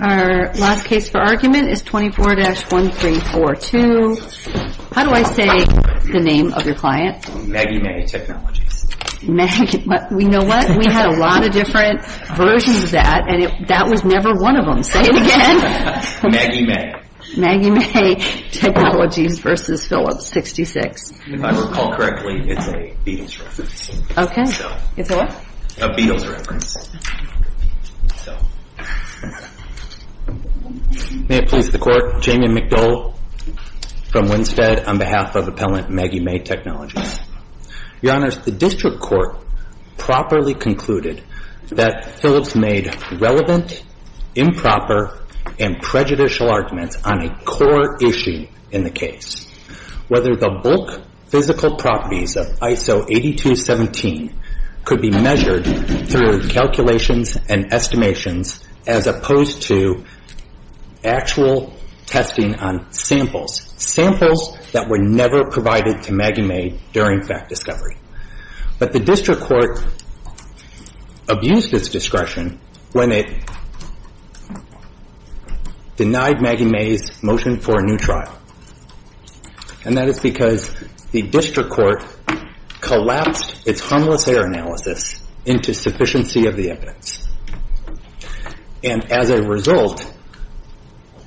Our last case for argument is 24-1342. How do I say the name of your client? Maggie Mae Technologies. We had a lot of different versions of that and that was never one of them. Say it again. Maggie Mae. Maggie Mae Technologies v. Phillips 66. If I recall correctly, it's a Beatles reference. Okay. It's a what? A Beatles reference. May it please the Court, Jamie McDole from Winstead on behalf of Appellant Maggie Mae Technologies. Your Honors, the District Court properly concluded that Phillips made relevant, improper, and prejudicial arguments on a core issue in the case. Whether the bulk physical properties of ISO 8217 could be measured through calculations and estimations as opposed to actual testing on samples. Samples that were never provided to Maggie Mae during fact discovery. But the District Court abused its discretion when it denied Maggie Mae's motion for a new trial. And that is because the District Court collapsed its harmless error analysis into sufficiency of the evidence. And as a result,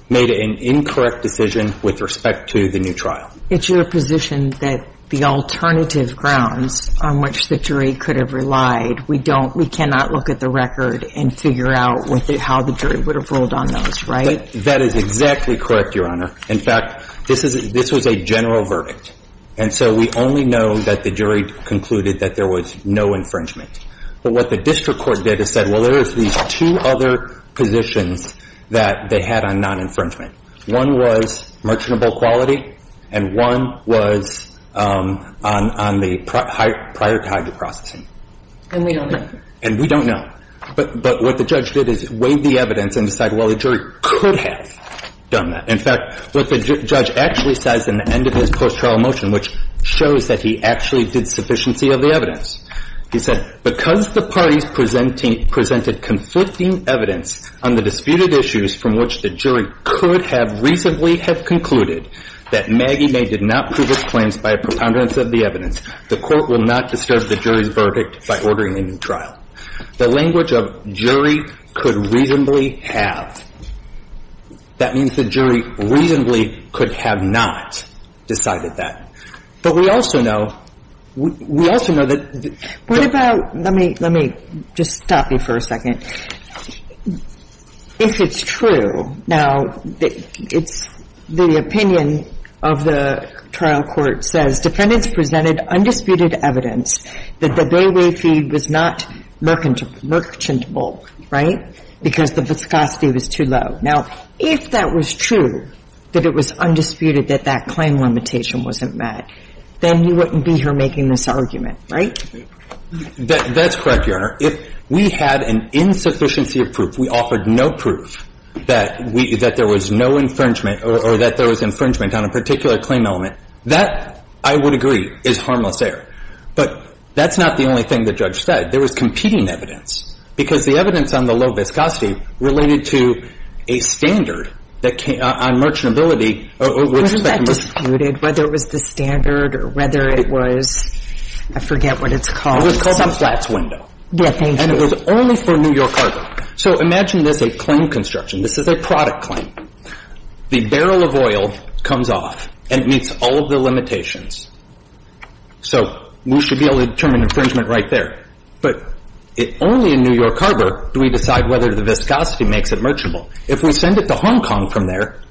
made an incorrect decision with respect to the new trial. It's your position that the alternative grounds on which the jury could have relied, we don't, we cannot look at the record and figure out how the jury would have ruled on those, right? That is exactly correct, Your Honor. In fact, this was a general verdict. And so we only know that the jury concluded that there was no infringement. But what the District Court did is said, well, there is these two other positions that they had on non-infringement. One was merchantable quality, and one was on the prior to hydro processing. And we don't know. And we don't know. But what the judge did is weighed the evidence and decided, well, the jury could have done that. In fact, what the judge actually says in the end of his post-trial motion, which shows that he actually did sufficiency of the evidence. He said, because the parties presented conflicting evidence on the disputed issues from which the jury could have reasonably have concluded that Maggie Mae did not prove its claims by a preponderance of the evidence, the court will not disturb the jury's verdict by ordering a new trial. The language of jury could reasonably have. That means the jury reasonably could have not decided that. But we also know, we also know that the – What about, let me, let me just stop you for a second. If it's true, now, it's the opinion of the trial court says defendants presented undisputed evidence that the Bayway feed was not merchantable, right? Because the viscosity was too low. Now, if that was true, that it was undisputed that that claim limitation wasn't met, then you wouldn't be here making this argument, right? That's correct, Your Honor. If we had an insufficiency of proof, we offered no proof that we – that there was no infringement or that there was infringement on a particular claim element, that, I would agree, is harmless error. But that's not the only thing the judge said. He said that there was competing evidence because the evidence on the low viscosity related to a standard that – on merchantability, which – Wasn't that disputed, whether it was the standard or whether it was – I forget what it's called. It was called a flat's window. Yeah, thank you. And it was only for New York cargo. So imagine this a claim construction. This is a product claim. The barrel of oil comes off and it meets all of the limitations. So we should be able to determine infringement right there. But only in New York cargo do we decide whether the viscosity makes it merchantable. If we send it to Hong Kong from there,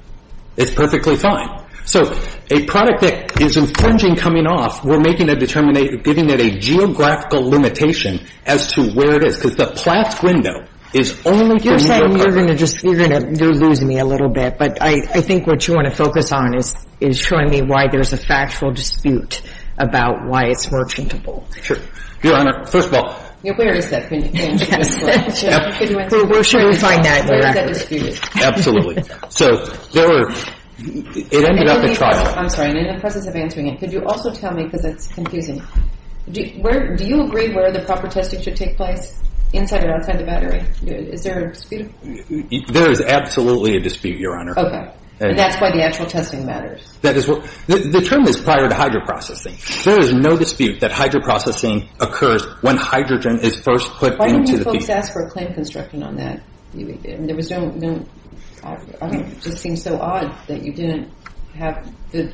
it's perfectly fine. So a product that is infringing coming off, we're making a – giving it a geographical limitation as to where it is because the flat's window is only for New York cargo. You're saying you're going to just – you're going to – you're losing me a little bit. But I think what you want to focus on is showing me why there's a factual dispute about why it's merchantable. Your Honor, first of all – Where is that? Can you answer this question? We're sure we'll find out. Where is that dispute? Absolutely. So there were – it ended up at trial. I'm sorry. In the presence of answering it, could you also tell me – because it's confusing. Do you agree where the proper testing should take place, inside or outside the battery? Is there a dispute? There is absolutely a dispute, Your Honor. Okay. And that's why the actual testing matters. That is what – the term is prior to hydro-processing. There is no dispute that hydro-processing occurs when hydrogen is first put into the – Why don't you folks ask for a claim construction on that? There was no – it just seems so odd that you didn't have the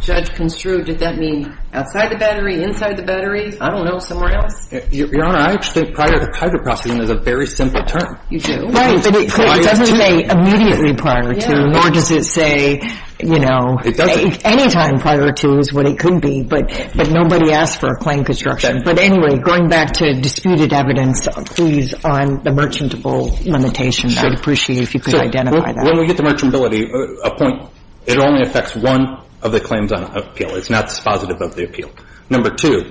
judge construe. Did that mean outside the battery, inside the battery? I don't know. Somewhere else? Your Honor, I actually think prior to hydro-processing is a very simple term. You do? Right. But it doesn't say immediately prior to, nor does it say, you know – It doesn't. Any time prior to is what it could be, but nobody asked for a claim construction. Okay. But anyway, going back to disputed evidence, please, on the merchantable limitation, I would appreciate if you could identify that. So when we get to merchantability, a point – it only affects one of the claims on appeal. It's not dispositive of the appeal. Number two,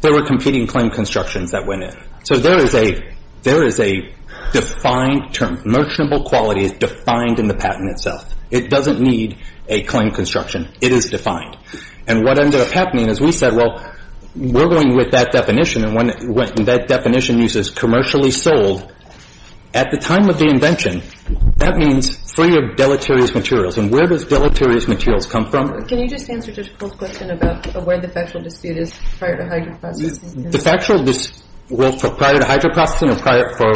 there were competing claim constructions that went in. So there is a – there is a defined term. Merchantable quality is defined in the patent itself. It doesn't need a claim construction. It is defined. And what ended up happening is we said, well, we're going with that definition, and when that definition uses commercially sold, at the time of the invention, that means free of deleterious materials. And where does deleterious materials come from? Can you just answer just a quick question about where the factual dispute is prior to hydro-processing? The factual dispute prior to hydro-processing or prior for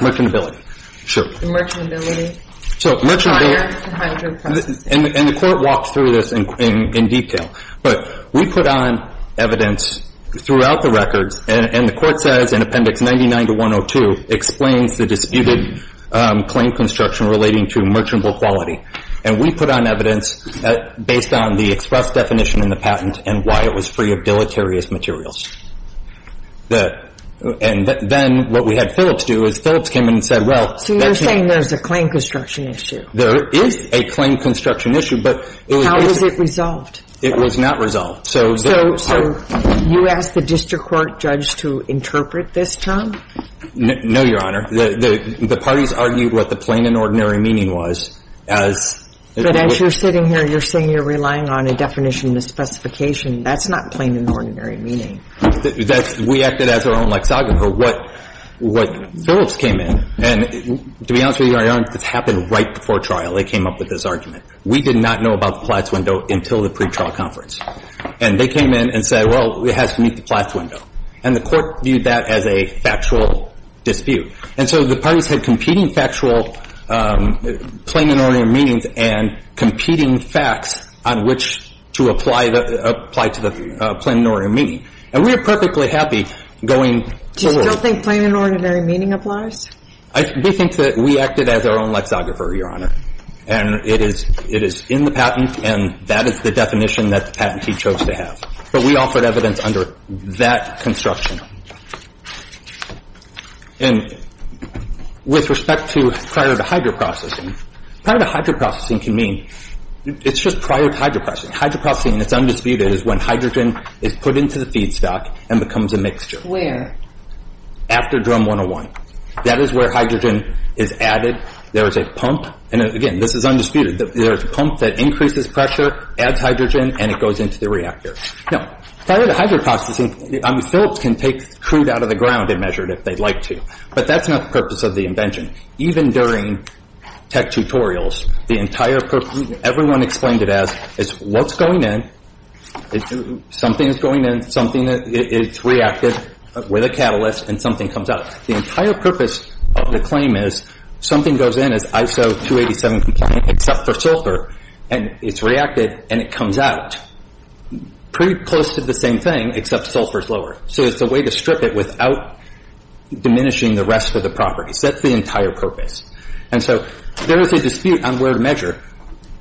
merchantability? Sure. Merchantability prior to hydro-processing. And the Court walks through this in detail. But we put on evidence throughout the records, and the Court says in Appendix 99-102, explains the disputed claim construction relating to merchantable quality. And we put on evidence based on the express definition in the patent and why it was free of deleterious materials. The – and then what we had Phillips do is Phillips came in and said, well, that's not – So you're saying there's a claim construction issue. There is a claim construction issue, but it was – How was it resolved? It was not resolved. So – So you asked the district court judge to interpret this term? No, Your Honor. The parties argued what the plain and ordinary meaning was as – But as you're sitting here, you're saying you're relying on a definition and a specification. That's not plain and ordinary meaning. That's – we acted as our own lexicon for what – what Phillips came in. And to be honest with you, Your Honor, this happened right before trial. They came up with this argument. We did not know about the Platz window until the pretrial conference. And they came in and said, well, it has to meet the Platz window. And the Court viewed that as a factual dispute. And so the parties had competing factual plain and ordinary meanings and competing facts on which to apply the – apply to the plain and ordinary meaning. And we were perfectly happy going forward. Do you still think plain and ordinary meaning applies? I do think that we acted as our own lexographer, Your Honor. And it is – it is in the patent, and that is the definition that the patentee chose to have. But we offered evidence under that construction. And with respect to prior to hydro processing, prior to hydro processing can mean – it's just prior to hydro processing. Hydro processing, it's undisputed, is when hydrogen is put into the feedstock and becomes a mixture. Where? After drum 101. That is where hydrogen is added. There is a pump – and again, this is undisputed. There is a pump that increases pressure, adds hydrogen, and it goes into the reactor. Now, prior to hydro processing, I mean, Philips can take crude out of the ground and measure it if they'd like to. But that's not the purpose of the invention. Even during tech tutorials, the entire purpose – everyone explained it as, is what's going in, something is going in, something is reacted with a catalyst, and something comes out. The entire purpose of the claim is something goes in as ISO 287 compliant except for sulfur, and it's reacted, and it comes out. Pretty close to the same thing, except sulfur is lower. So it's a way to strip it without diminishing the rest of the properties. That's the entire purpose. And so there is a dispute on where to measure.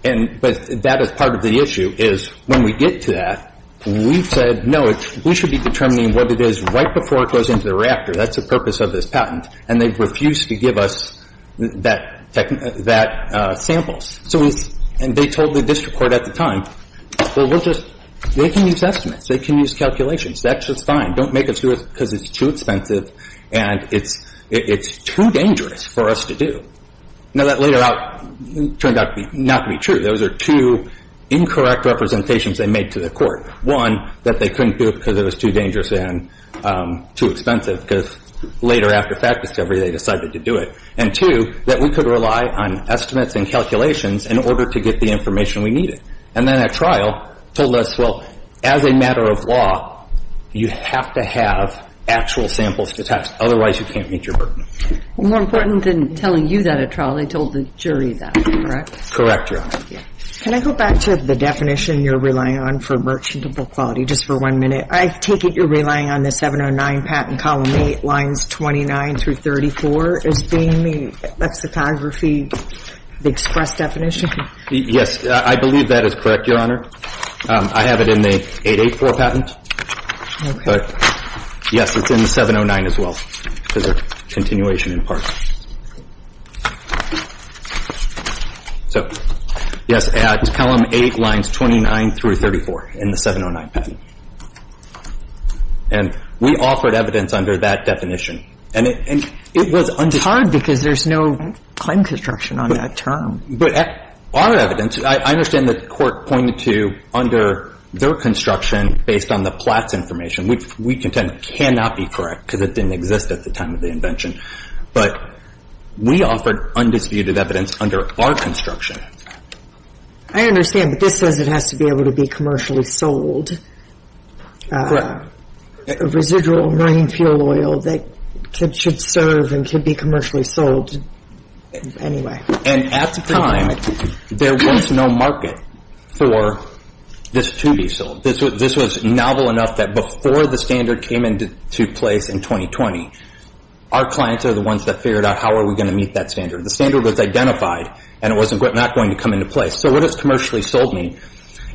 But that is part of the issue, is when we get to that, we've said, no, we should be determining what it is right before it goes into the reactor. That's the purpose of this patent. And they've refused to give us that sample. And they told the district court at the time, well, we'll just – they can use estimates. They can use calculations. That's just fine. Don't make us do it because it's too expensive, and it's too dangerous for us to do. Now, that later out turned out not to be true. Those are two incorrect representations they made to the court. One, that they couldn't do it because it was too dangerous and too expensive because later, after fact discovery, they decided to do it. And two, that we could rely on estimates and calculations in order to get the information we needed. And then at trial, told us, well, as a matter of law, you have to have actual samples to test. Otherwise, you can't meet your burden. More important than telling you that at trial, they told the jury that, correct? Correct, Your Honor. Can I go back to the definition you're relying on for merchantable quality just for one minute? I take it you're relying on the 709 patent, column 8, lines 29 through 34, as being the lexicography express definition? Yes, I believe that is correct, Your Honor. I have it in the 884 patent. But, yes, it's in 709 as well for the continuation in part. So, yes, it's column 8, lines 29 through 34 in the 709 patent. And we offered evidence under that definition. And it was under the... It's hard because there's no claim construction on that term. But our evidence, I understand the court pointed to under their construction, based on the Platz information, which we contend cannot be correct because it didn't exist at the time of the invention. But we offered undisputed evidence under our construction. I understand, but this says it has to be able to be commercially sold. Correct. A residual marine fuel oil that should serve and could be commercially sold anyway. And at the time, there was no market for this to be sold. This was novel enough that before the standard came into place in 2020, our clients are the ones that figured out how are we going to meet that standard. The standard was identified, and it was not going to come into place. So what does commercially sold mean?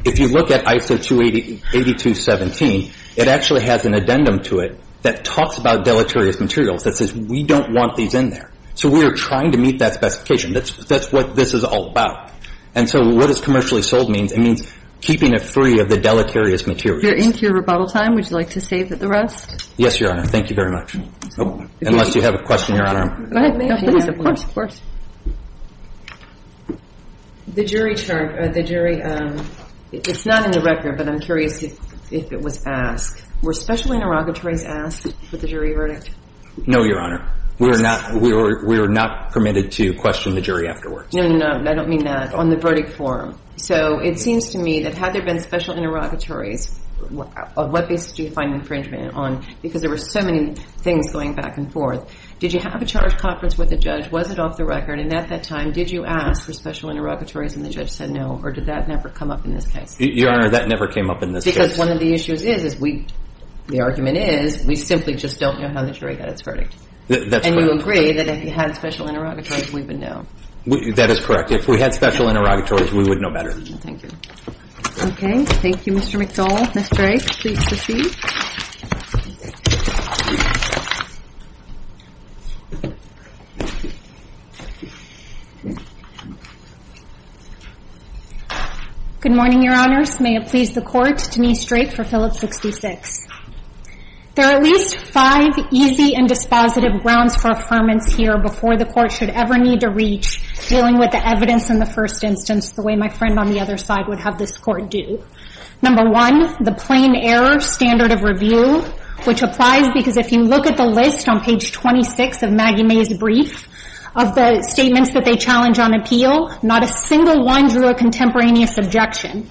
If you look at ISO 28217, it actually has an addendum to it that talks about deleterious materials that says we don't want these in there. So we are trying to meet that specification. That's what this is all about. And so what does commercially sold mean? It means keeping it free of the deleterious materials. We're into your rebuttal time. Would you like to save it for the rest? Yes, Your Honor. Thank you very much. Unless you have a question, Your Honor. Go ahead, ma'am. Of course, of course. The jury term, the jury, it's not in the record, but I'm curious if it was asked. Were special interrogatories asked for the jury verdict? No, Your Honor. We are not permitted to question the jury afterwards. No, no, no. I don't mean that. On the verdict form. So it seems to me that had there been special interrogatories, what basis do you find infringement on? Because there were so many things going back and forth. Did you have a charge conference with the judge? Was it off the record? And at that time, did you ask for special interrogatories and the judge said no? Or did that never come up in this case? Your Honor, that never came up in this case. Because one of the issues is, the argument is, we simply just don't know how the jury got its verdict. That's correct. And you agree that if you had special interrogatories, we would know. That is correct. If we had special interrogatories, we would know better. Thank you. Okay. Thank you, Mr. McDole. Ms. Drake, please proceed. Good morning, Your Honors. May it please the Court, Denise Drake for Phillips 66. There are at least five easy and dispositive grounds for affirmance here before the Court should ever need to reach, dealing with the evidence in the first instance the way my friend on the other side would have this Court do. Number one, the plain error standard of review, which applies because if you look at the list on page 26 of Maggie May's brief, of the statements that they challenge on appeal, not a single one drew a contemporaneous objection.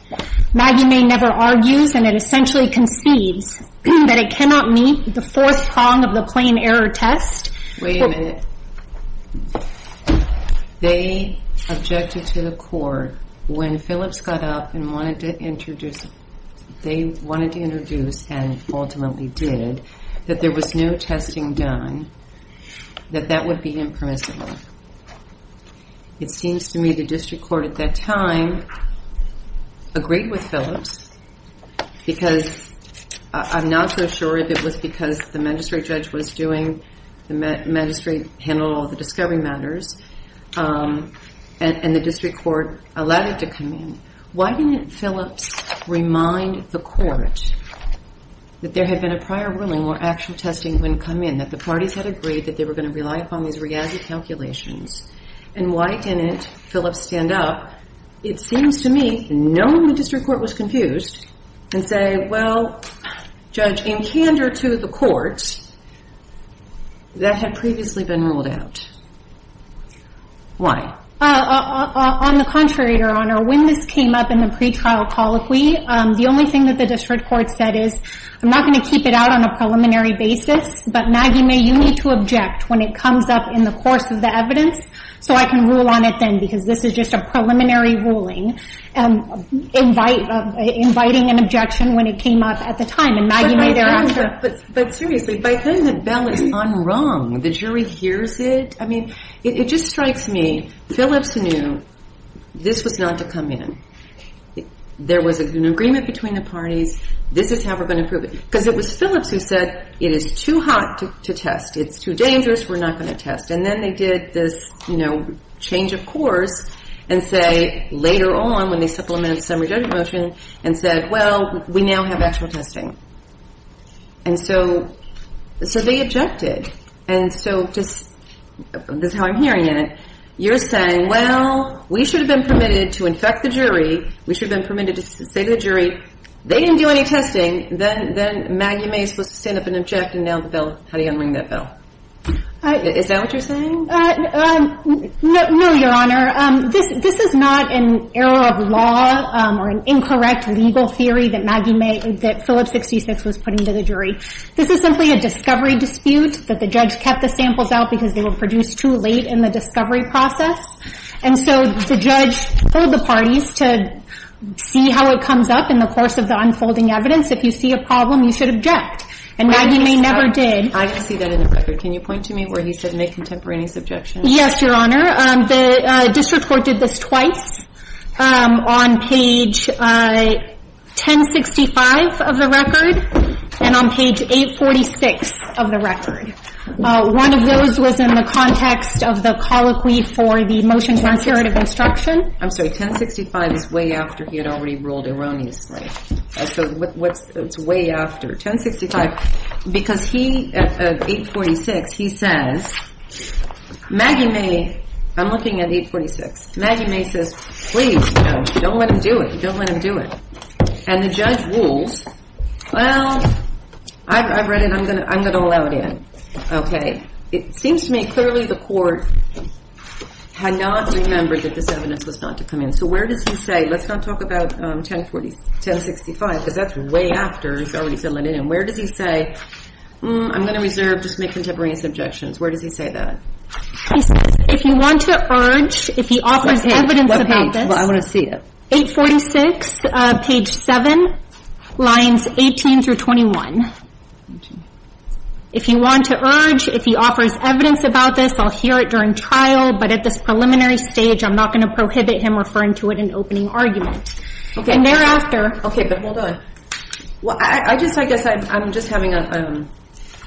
Maggie May never argues, and it essentially conceives, that it cannot meet the fourth prong of the plain error test. Wait a minute. They objected to the Court when Phillips got up and wanted to introduce, they wanted to introduce and ultimately did, that there was no testing done, that that would be impermissible. It seems to me the District Court at that time agreed with Phillips because I'm not so sure if it was because the magistrate judge was doing, the magistrate handled all the discovery matters, and the District Court allowed it to come in. Why didn't Phillips remind the Court that there had been a prior ruling where actual testing wouldn't come in, that the parties had agreed that they were going to rely upon these reality calculations? And why didn't Phillips stand up? It seems to me no one in the District Court was confused and say, well, Judge, in candor to the Court, that had previously been ruled out. Why? On the contrary, Your Honor, when this came up in the pretrial colloquy, the only thing that the District Court said is, I'm not going to keep it out on a preliminary basis, but Maggie May, you need to object when it comes up in the course of the evidence, so I can rule on it then, because this is just a preliminary ruling, inviting an objection when it came up at the time, and Maggie May thereafter. But seriously, by then the bell is unrung. The jury hears it. I mean, it just strikes me. Phillips knew this was not to come in. There was an agreement between the parties. This is how we're going to prove it. Because it was Phillips who said, it is too hot to test. It's too dangerous. We're not going to test. And then they did this change of course and say later on when they supplemented the summary judgment motion and said, well, we now have actual testing. And so they objected. And so this is how I'm hearing it. You're saying, well, we should have been permitted to infect the jury. We should have been permitted to say to the jury, they didn't do any testing. Then Maggie May is supposed to stand up and object, and now the bell, how do you unring that bell? Is that what you're saying? No, Your Honor. This is not an error of law or an incorrect legal theory that Maggie May, that Phillips 66 was putting to the jury. This is simply a discovery dispute that the judge kept the samples out because they were produced too late in the discovery process. And so the judge told the parties to see how it comes up in the course of the unfolding evidence. If you see a problem, you should object. And Maggie May never did. I see that in the record. Can you point to me where he said May contemporaneous objection? Yes, Your Honor. The district court did this twice, on page 1065 of the record and on page 846 of the record. One of those was in the context of the colloquy for the motion to non-serative instruction. I'm sorry. 1065 is way after he had already ruled erroneously. So it's way after. 1065. Because he, at 846, he says, Maggie May, I'm looking at 846. Maggie May says, please, don't let him do it. Don't let him do it. And the judge rules, well, I've read it. I'm going to allow it in. Okay. It seems to me clearly the court had not remembered that this evidence was not to come in. So where does he say, let's not talk about 1065, because that's way after. He's already filling it in. Where does he say, I'm going to reserve, just make contemporaneous objections. Where does he say that? He says, if you want to urge, if he offers evidence about this. Well, I want to see it. 846, page 7, lines 18 through 21. If you want to urge, if he offers evidence about this, I'll hear it during trial. But at this preliminary stage, I'm not going to prohibit him referring to it in opening argument. And thereafter. Okay, but hold on. Well, I just, I guess I'm just having a,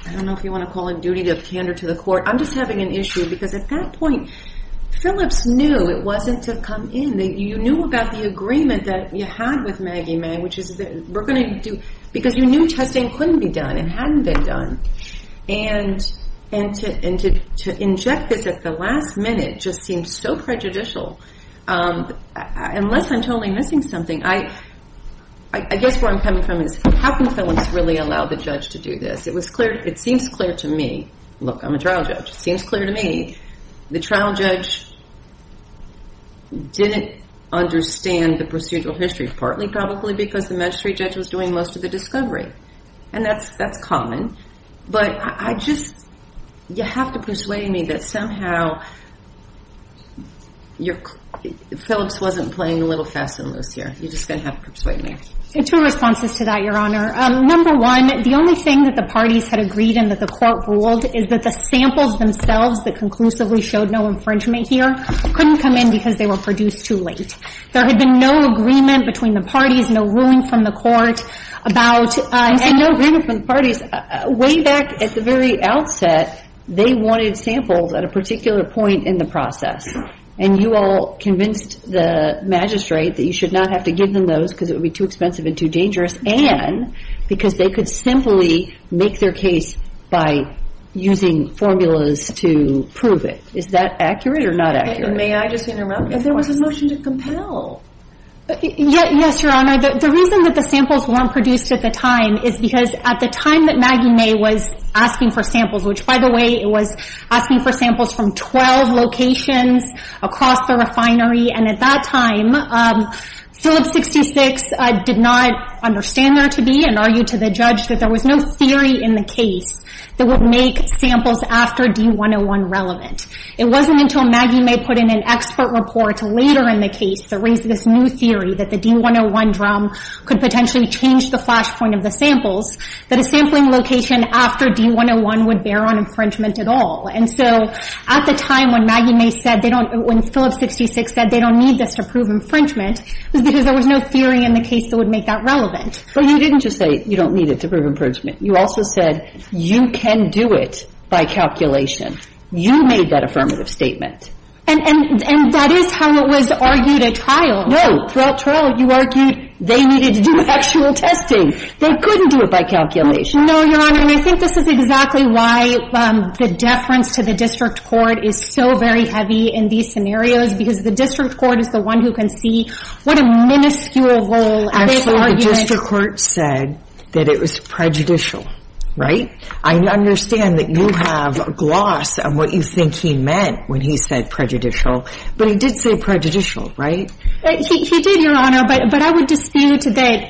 I don't know if you want to call a duty of candor to the court. I'm just having an issue, because at that point, Phillips knew it wasn't to come in. You knew about the agreement that you had with Maggie May, which is that we're going to do, because you knew testing couldn't be done. It hadn't been done. And to inject this at the last minute just seems so prejudicial. Unless I'm totally missing something. I guess where I'm coming from is, how can Phillips really allow the judge to do this? It was clear, it seems clear to me. Look, I'm a trial judge. It seems clear to me. The trial judge didn't understand the procedural history, partly probably because the magistrate judge was doing most of the discovery. And that's common. But I just, you have to persuade me that somehow, Phillips wasn't playing a little fast and loose here. You're just going to have to persuade me. Two responses to that, Your Honor. Number one, the only thing that the parties had agreed and that the court ruled is that the samples themselves that conclusively showed no infringement here couldn't come in because they were produced too late. There had been no agreement between the parties, no ruling from the court about And no ruling from the parties. Way back at the very outset, they wanted samples at a particular point in the process. And you all convinced the magistrate that you should not have to give them those because it would be too expensive and too dangerous and because they could simply make their case by using formulas to prove it. Is that accurate or not accurate? May I just interrupt? There was a motion to compel. Yes, Your Honor. The reason that the samples weren't produced at the time is because at the time that Maggie May was asking for samples, which, by the way, it was asking for samples from 12 locations across the refinery, and at that time, Phillips 66 did not understand there to be and argued to the judge that there was no theory in the case that would make samples after D-101 relevant. It wasn't until Maggie May put in an expert report later in the case that raised this new theory that the D-101 drum could potentially change the flash point of the samples, that a sampling location after D-101 would bear on infringement at all. And so at the time when Maggie May said they don't – when Phillips 66 said they don't need this to prove infringement, it was because there was no theory in the case that would make that relevant. But you didn't just say you don't need it to prove infringement. You also said you can do it by calculation. You made that affirmative statement. And that is how it was argued at trial. No. Throughout trial, you argued they needed to do actual testing. They couldn't do it by calculation. No, Your Honor. And I think this is exactly why the deference to the district court is so very heavy in these scenarios, because the district court is the one who can see what a minuscule role they've argued. Actually, the district court said that it was prejudicial. Right? I understand that you have gloss on what you think he meant when he said prejudicial. But he did say prejudicial, right? He did, Your Honor. But I would dispute that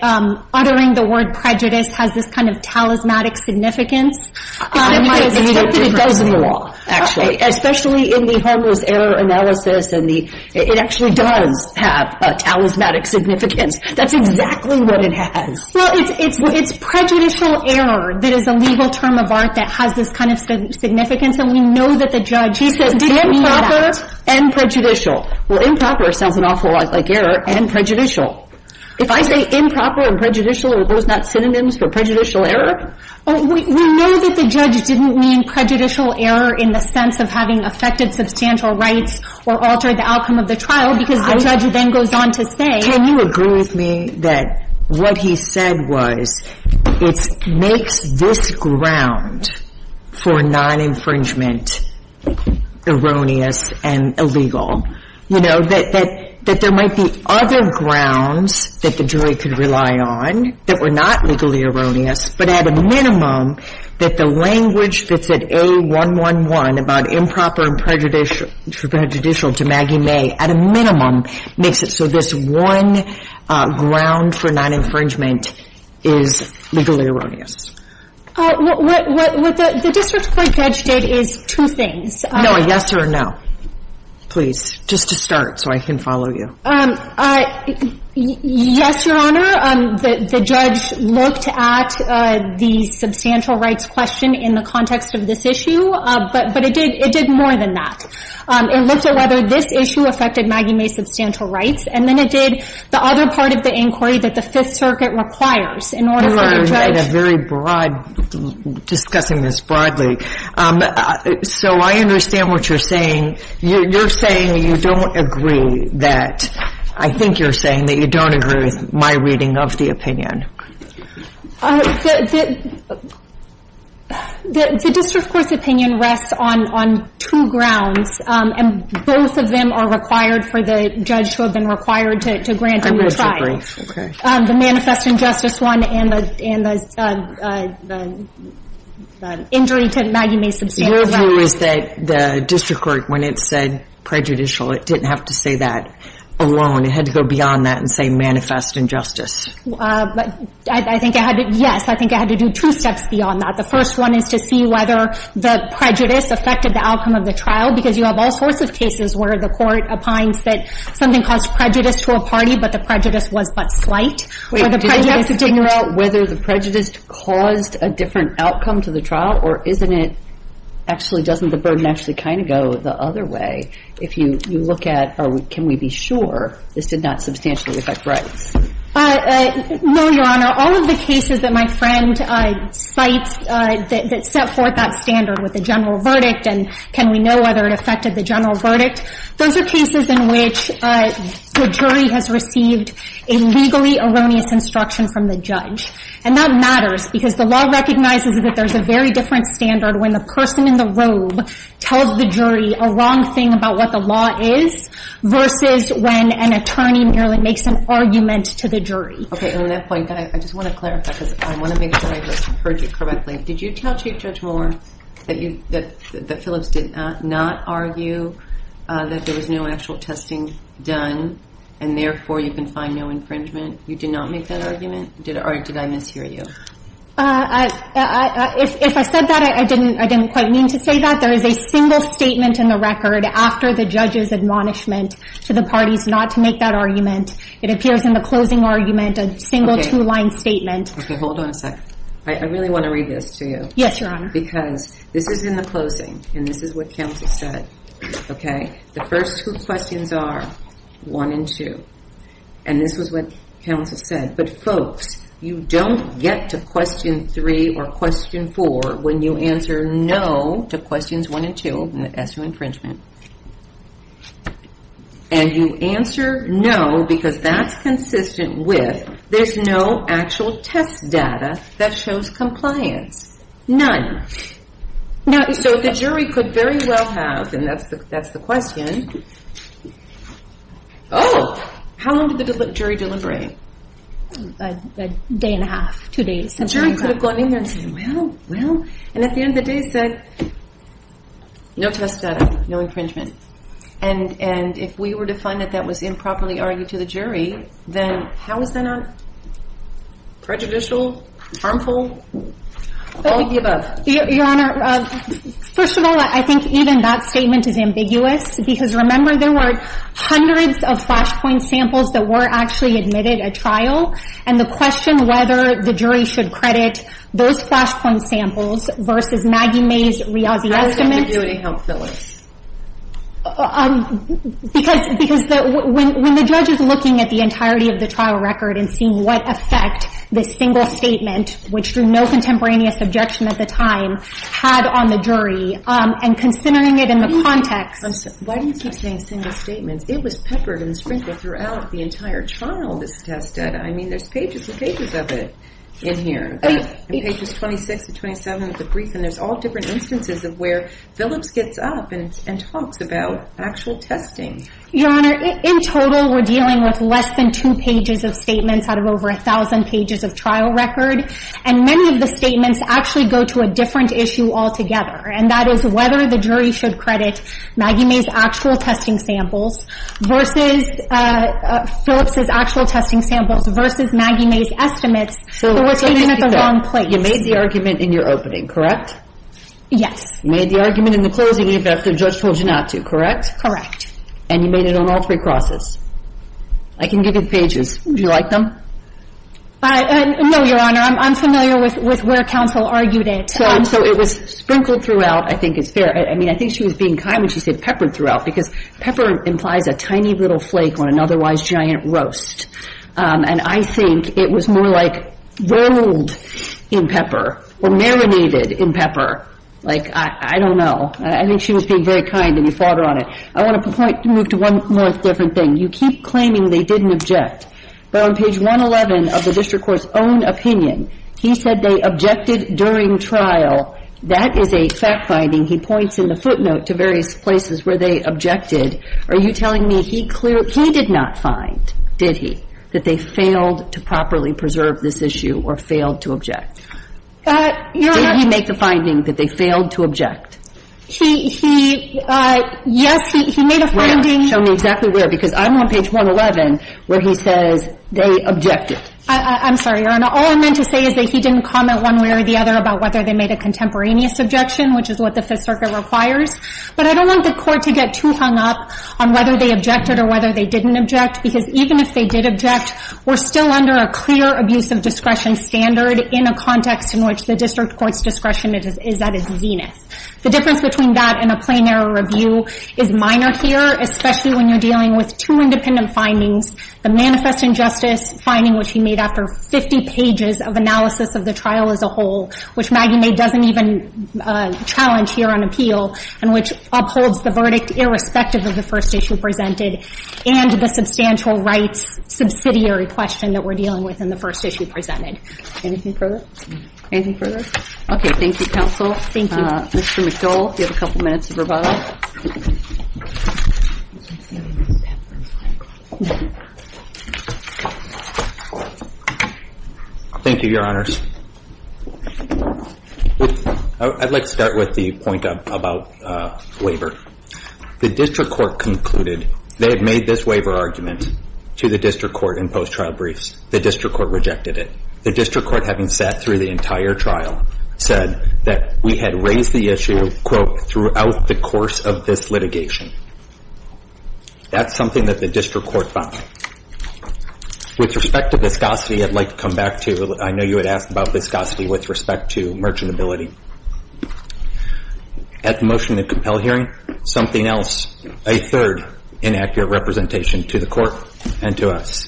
uttering the word prejudice has this kind of talismanic significance. It does in the law, actually, especially in the homeless error analysis. It actually does have a talismanic significance. That's exactly what it has. Well, it's prejudicial error that is a legal term of art that has this kind of significance. And we know that the judge, he said, didn't mean that. Improper and prejudicial. Well, improper sounds an awful lot like error and prejudicial. If I say improper and prejudicial, are those not synonyms for prejudicial error? We know that the judge didn't mean prejudicial error in the sense of having affected substantial rights or altered the outcome of the trial, because the judge then goes on to say. Can you agree with me that what he said was it makes this ground for non-infringement erroneous and illegal? You know, that there might be other grounds that the jury could rely on that were not legally erroneous, but at a minimum that the language that's at A111 about improper and prejudicial to Maggie May, at a minimum, makes it so this one ground for non-infringement is legally erroneous. What the district court judge did is two things. No, a yes or a no. Please, just to start so I can follow you. Yes, Your Honor. The judge looked at the substantial rights question in the context of this issue, but it did more than that. It looked at whether this issue affected Maggie May's substantial rights, and then it did the other part of the inquiry that the Fifth Circuit requires in order for the judge to You are in a very broad, discussing this broadly. So I understand what you're saying. You're saying you don't agree that, I think you're saying that you don't agree with my reading of the opinion. The district court's opinion rests on two grounds, and both of them are required for the judge to have been required to grant and retry. I'm going to be brief, okay. The manifest injustice one and the injury to Maggie May's substantial rights. Your view is that the district court, when it said prejudicial, it didn't have to say that alone. It had to go beyond that and say manifest injustice. I think it had to, yes, I think it had to do two steps beyond that. The first one is to see whether the prejudice affected the outcome of the trial, because you have all sorts of cases where the court opines that something caused prejudice to a party, but the prejudice was but slight. Wait, did you have to figure out whether the prejudice caused a different outcome to the trial, or isn't it, actually doesn't the burden actually kind of go the other way? If you look at, can we be sure this did not substantially affect rights? No, Your Honor. All of the cases that my friend cites that set forth that standard with the general verdict and can we know whether it affected the general verdict, those are cases in which the jury has received a legally erroneous instruction from the judge, and that matters because the law recognizes that there's a very different standard when the person in the robe tells the jury a wrong thing about what the law is versus when an attorney merely makes an argument to the jury. Okay, and on that point, I just want to clarify because I want to make sure I heard you correctly. Did you tell Chief Judge Moore that Phillips did not argue that there was no actual testing done and therefore you can find no infringement? You did not make that argument, or did I mishear you? If I said that, I didn't quite mean to say that. There is a single statement in the record after the judge's admonishment to the parties not to make that argument. It appears in the closing argument, a single two-line statement. Okay, hold on a second. I really want to read this to you. Yes, Your Honor. Because this is in the closing, and this is what counsel said, okay? The first two questions are 1 and 2, and this is what counsel said. But folks, you don't get to question 3 or question 4 when you answer no to questions 1 and 2 as to infringement. And you answer no because that's consistent with there's no actual test data that shows compliance. So the jury could very well have, and that's the question. Oh, how long did the jury deliberate? A day and a half, two days. The jury could have gone in there and said, well, well. And at the end of the day said, no test data, no infringement. And if we were to find that that was improperly argued to the jury, then how is that not prejudicial, harmful, all of the above? Your Honor, first of all, I think even that statement is ambiguous. Because, remember, there were hundreds of flashpoint samples that were actually admitted at trial. And the question whether the jury should credit those flashpoint samples versus Maggie May's Riazi estimates. How does ambiguity help, Phyllis? Because when the judge is looking at the entirety of the trial record and seeing what effect this single statement, which drew no contemporaneous objection at the time, had on the jury, and considering it in the context. Why do you keep saying single statements? It was peppered and sprinkled throughout the entire trial, this test data. I mean, there's pages and pages of it in here, pages 26 to 27 of the brief. And there's all different instances of where Phyllis gets up and talks about actual testing. Your Honor, in total, we're dealing with less than two pages of statements out of over a thousand pages of trial record. And many of the statements actually go to a different issue altogether. And that is whether the jury should credit Maggie May's actual testing samples versus Phyllis's actual testing samples versus Maggie May's estimates. So let's just be clear. They were taken at the wrong place. You made the argument in your opening, correct? Yes. You made the argument in the closing, in fact, the judge told you not to, correct? Correct. And you made it on all three crosses. I can give you the pages. Do you like them? No, Your Honor. I'm familiar with where counsel argued it. So it was sprinkled throughout, I think is fair. I mean, I think she was being kind when she said peppered throughout, because pepper implies a tiny little flake on an otherwise giant roast. And I think it was more like rolled in pepper or marinated in pepper. Like, I don't know. I think she was being very kind, and you fought her on it. I want to move to one more different thing. You keep claiming they didn't object. But on page 111 of the district court's own opinion, he said they objected during trial. That is a fact-finding. He points in the footnote to various places where they objected. Are you telling me he did not find, did he, that they failed to properly preserve this issue or failed to object? Did he make the finding that they failed to object? He, yes, he made a finding. Show me exactly where, because I'm on page 111 where he says they objected. I'm sorry, Your Honor. All I meant to say is that he didn't comment one way or the other about whether they made a contemporaneous objection, which is what the Fifth Circuit requires. But I don't want the Court to get too hung up on whether they objected or whether they didn't object, because even if they did object, we're still under a clear abuse of discretion standard in a context in which the district court's discretion is at its zenith. The difference between that and a plain error review is minor here, especially when you're dealing with two independent findings, the manifest injustice finding which he made after 50 pages of analysis of the trial as a whole, which Maggie Mae doesn't even challenge here on appeal, and which upholds the verdict irrespective of the first issue presented, and the substantial rights subsidiary question that we're dealing with in the first issue presented. Anything further? Anything further? Okay, thank you, counsel. Thank you. Mr. McDole, you have a couple minutes of rebuttal. Thank you, Your Honors. I'd like to start with the point about waiver. The district court concluded they had made this waiver argument to the district court in post-trial briefs. The district court rejected it. The district court, having sat through the entire trial, said that we had raised the issue, quote, throughout the course of this litigation. That's something that the district court found. With respect to viscosity, I'd like to come back to, I know you had asked about viscosity with respect to merchantability. At the motion to compel hearing, something else, a third inaccurate representation to the court and to us.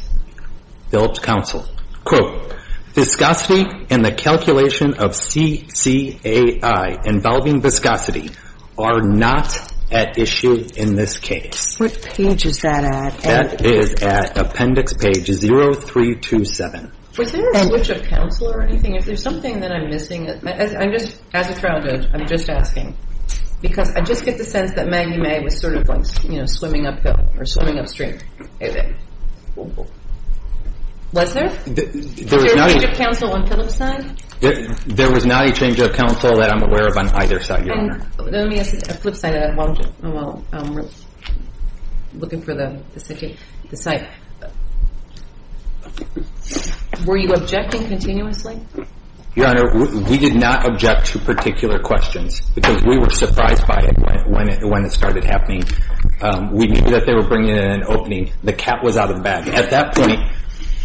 Phelps counsel, quote, viscosity in the calculation of CCAI involving viscosity are not at issue in this case. What page is that at? That is at appendix page 0327. Was there a switch of counsel or anything? If there's something that I'm missing, as a trial judge, I'm just asking. Because I just get the sense that Maggie Mae was sort of like swimming upstream. Was there? There was not a change of counsel on Phelps' side? There was not a change of counsel that I'm aware of on either side, Your Honor. Then let me ask Phelps' side while looking for the site. Were you objecting continuously? Your Honor, we did not object to particular questions. Because we were surprised by it when it started happening. We knew that they were bringing it in an opening. The cat was out of the bag. At that point,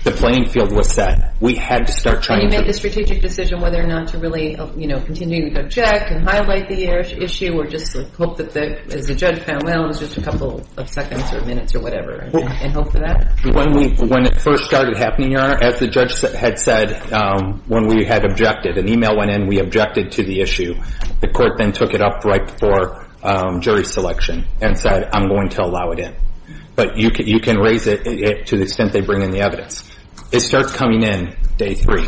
the playing field was set. We had to start trying to get it. And you made the strategic decision whether or not to really, you know, continue to go check and highlight the issue or just hope that the judge found, well, it was just a couple of seconds or minutes or whatever, and hope for that? When it first started happening, Your Honor, as the judge had said, when we had objected, an email went in, we objected to the issue. The court then took it up right before jury selection and said, I'm going to allow it in. But you can raise it to the extent they bring in the evidence. It starts coming in day three.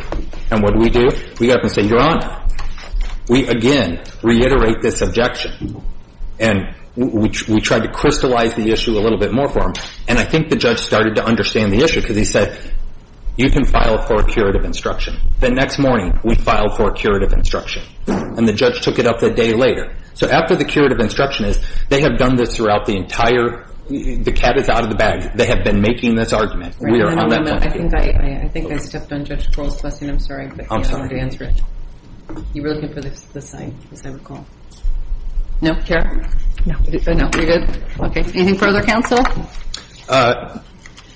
And what do we do? We get up and say, Your Honor, we again reiterate this objection. And we tried to crystallize the issue a little bit more for them. And I think the judge started to understand the issue because he said, you can file for a curative instruction. The next morning, we filed for a curative instruction. And the judge took it up a day later. So after the curative instruction is, they have done this throughout the entire, the cat is out of the bag. They have been making this argument. We are on that point. I think I stepped on Judge Crowell's question. I'm sorry. I'm sorry. You were looking for the sign, as I recall. No? Chair? No. No. You're good? Okay. Anything further, counsel? No.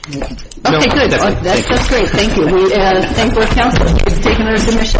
Okay, good. That's great. Thank you. We thank both counsel. It's taken a submission.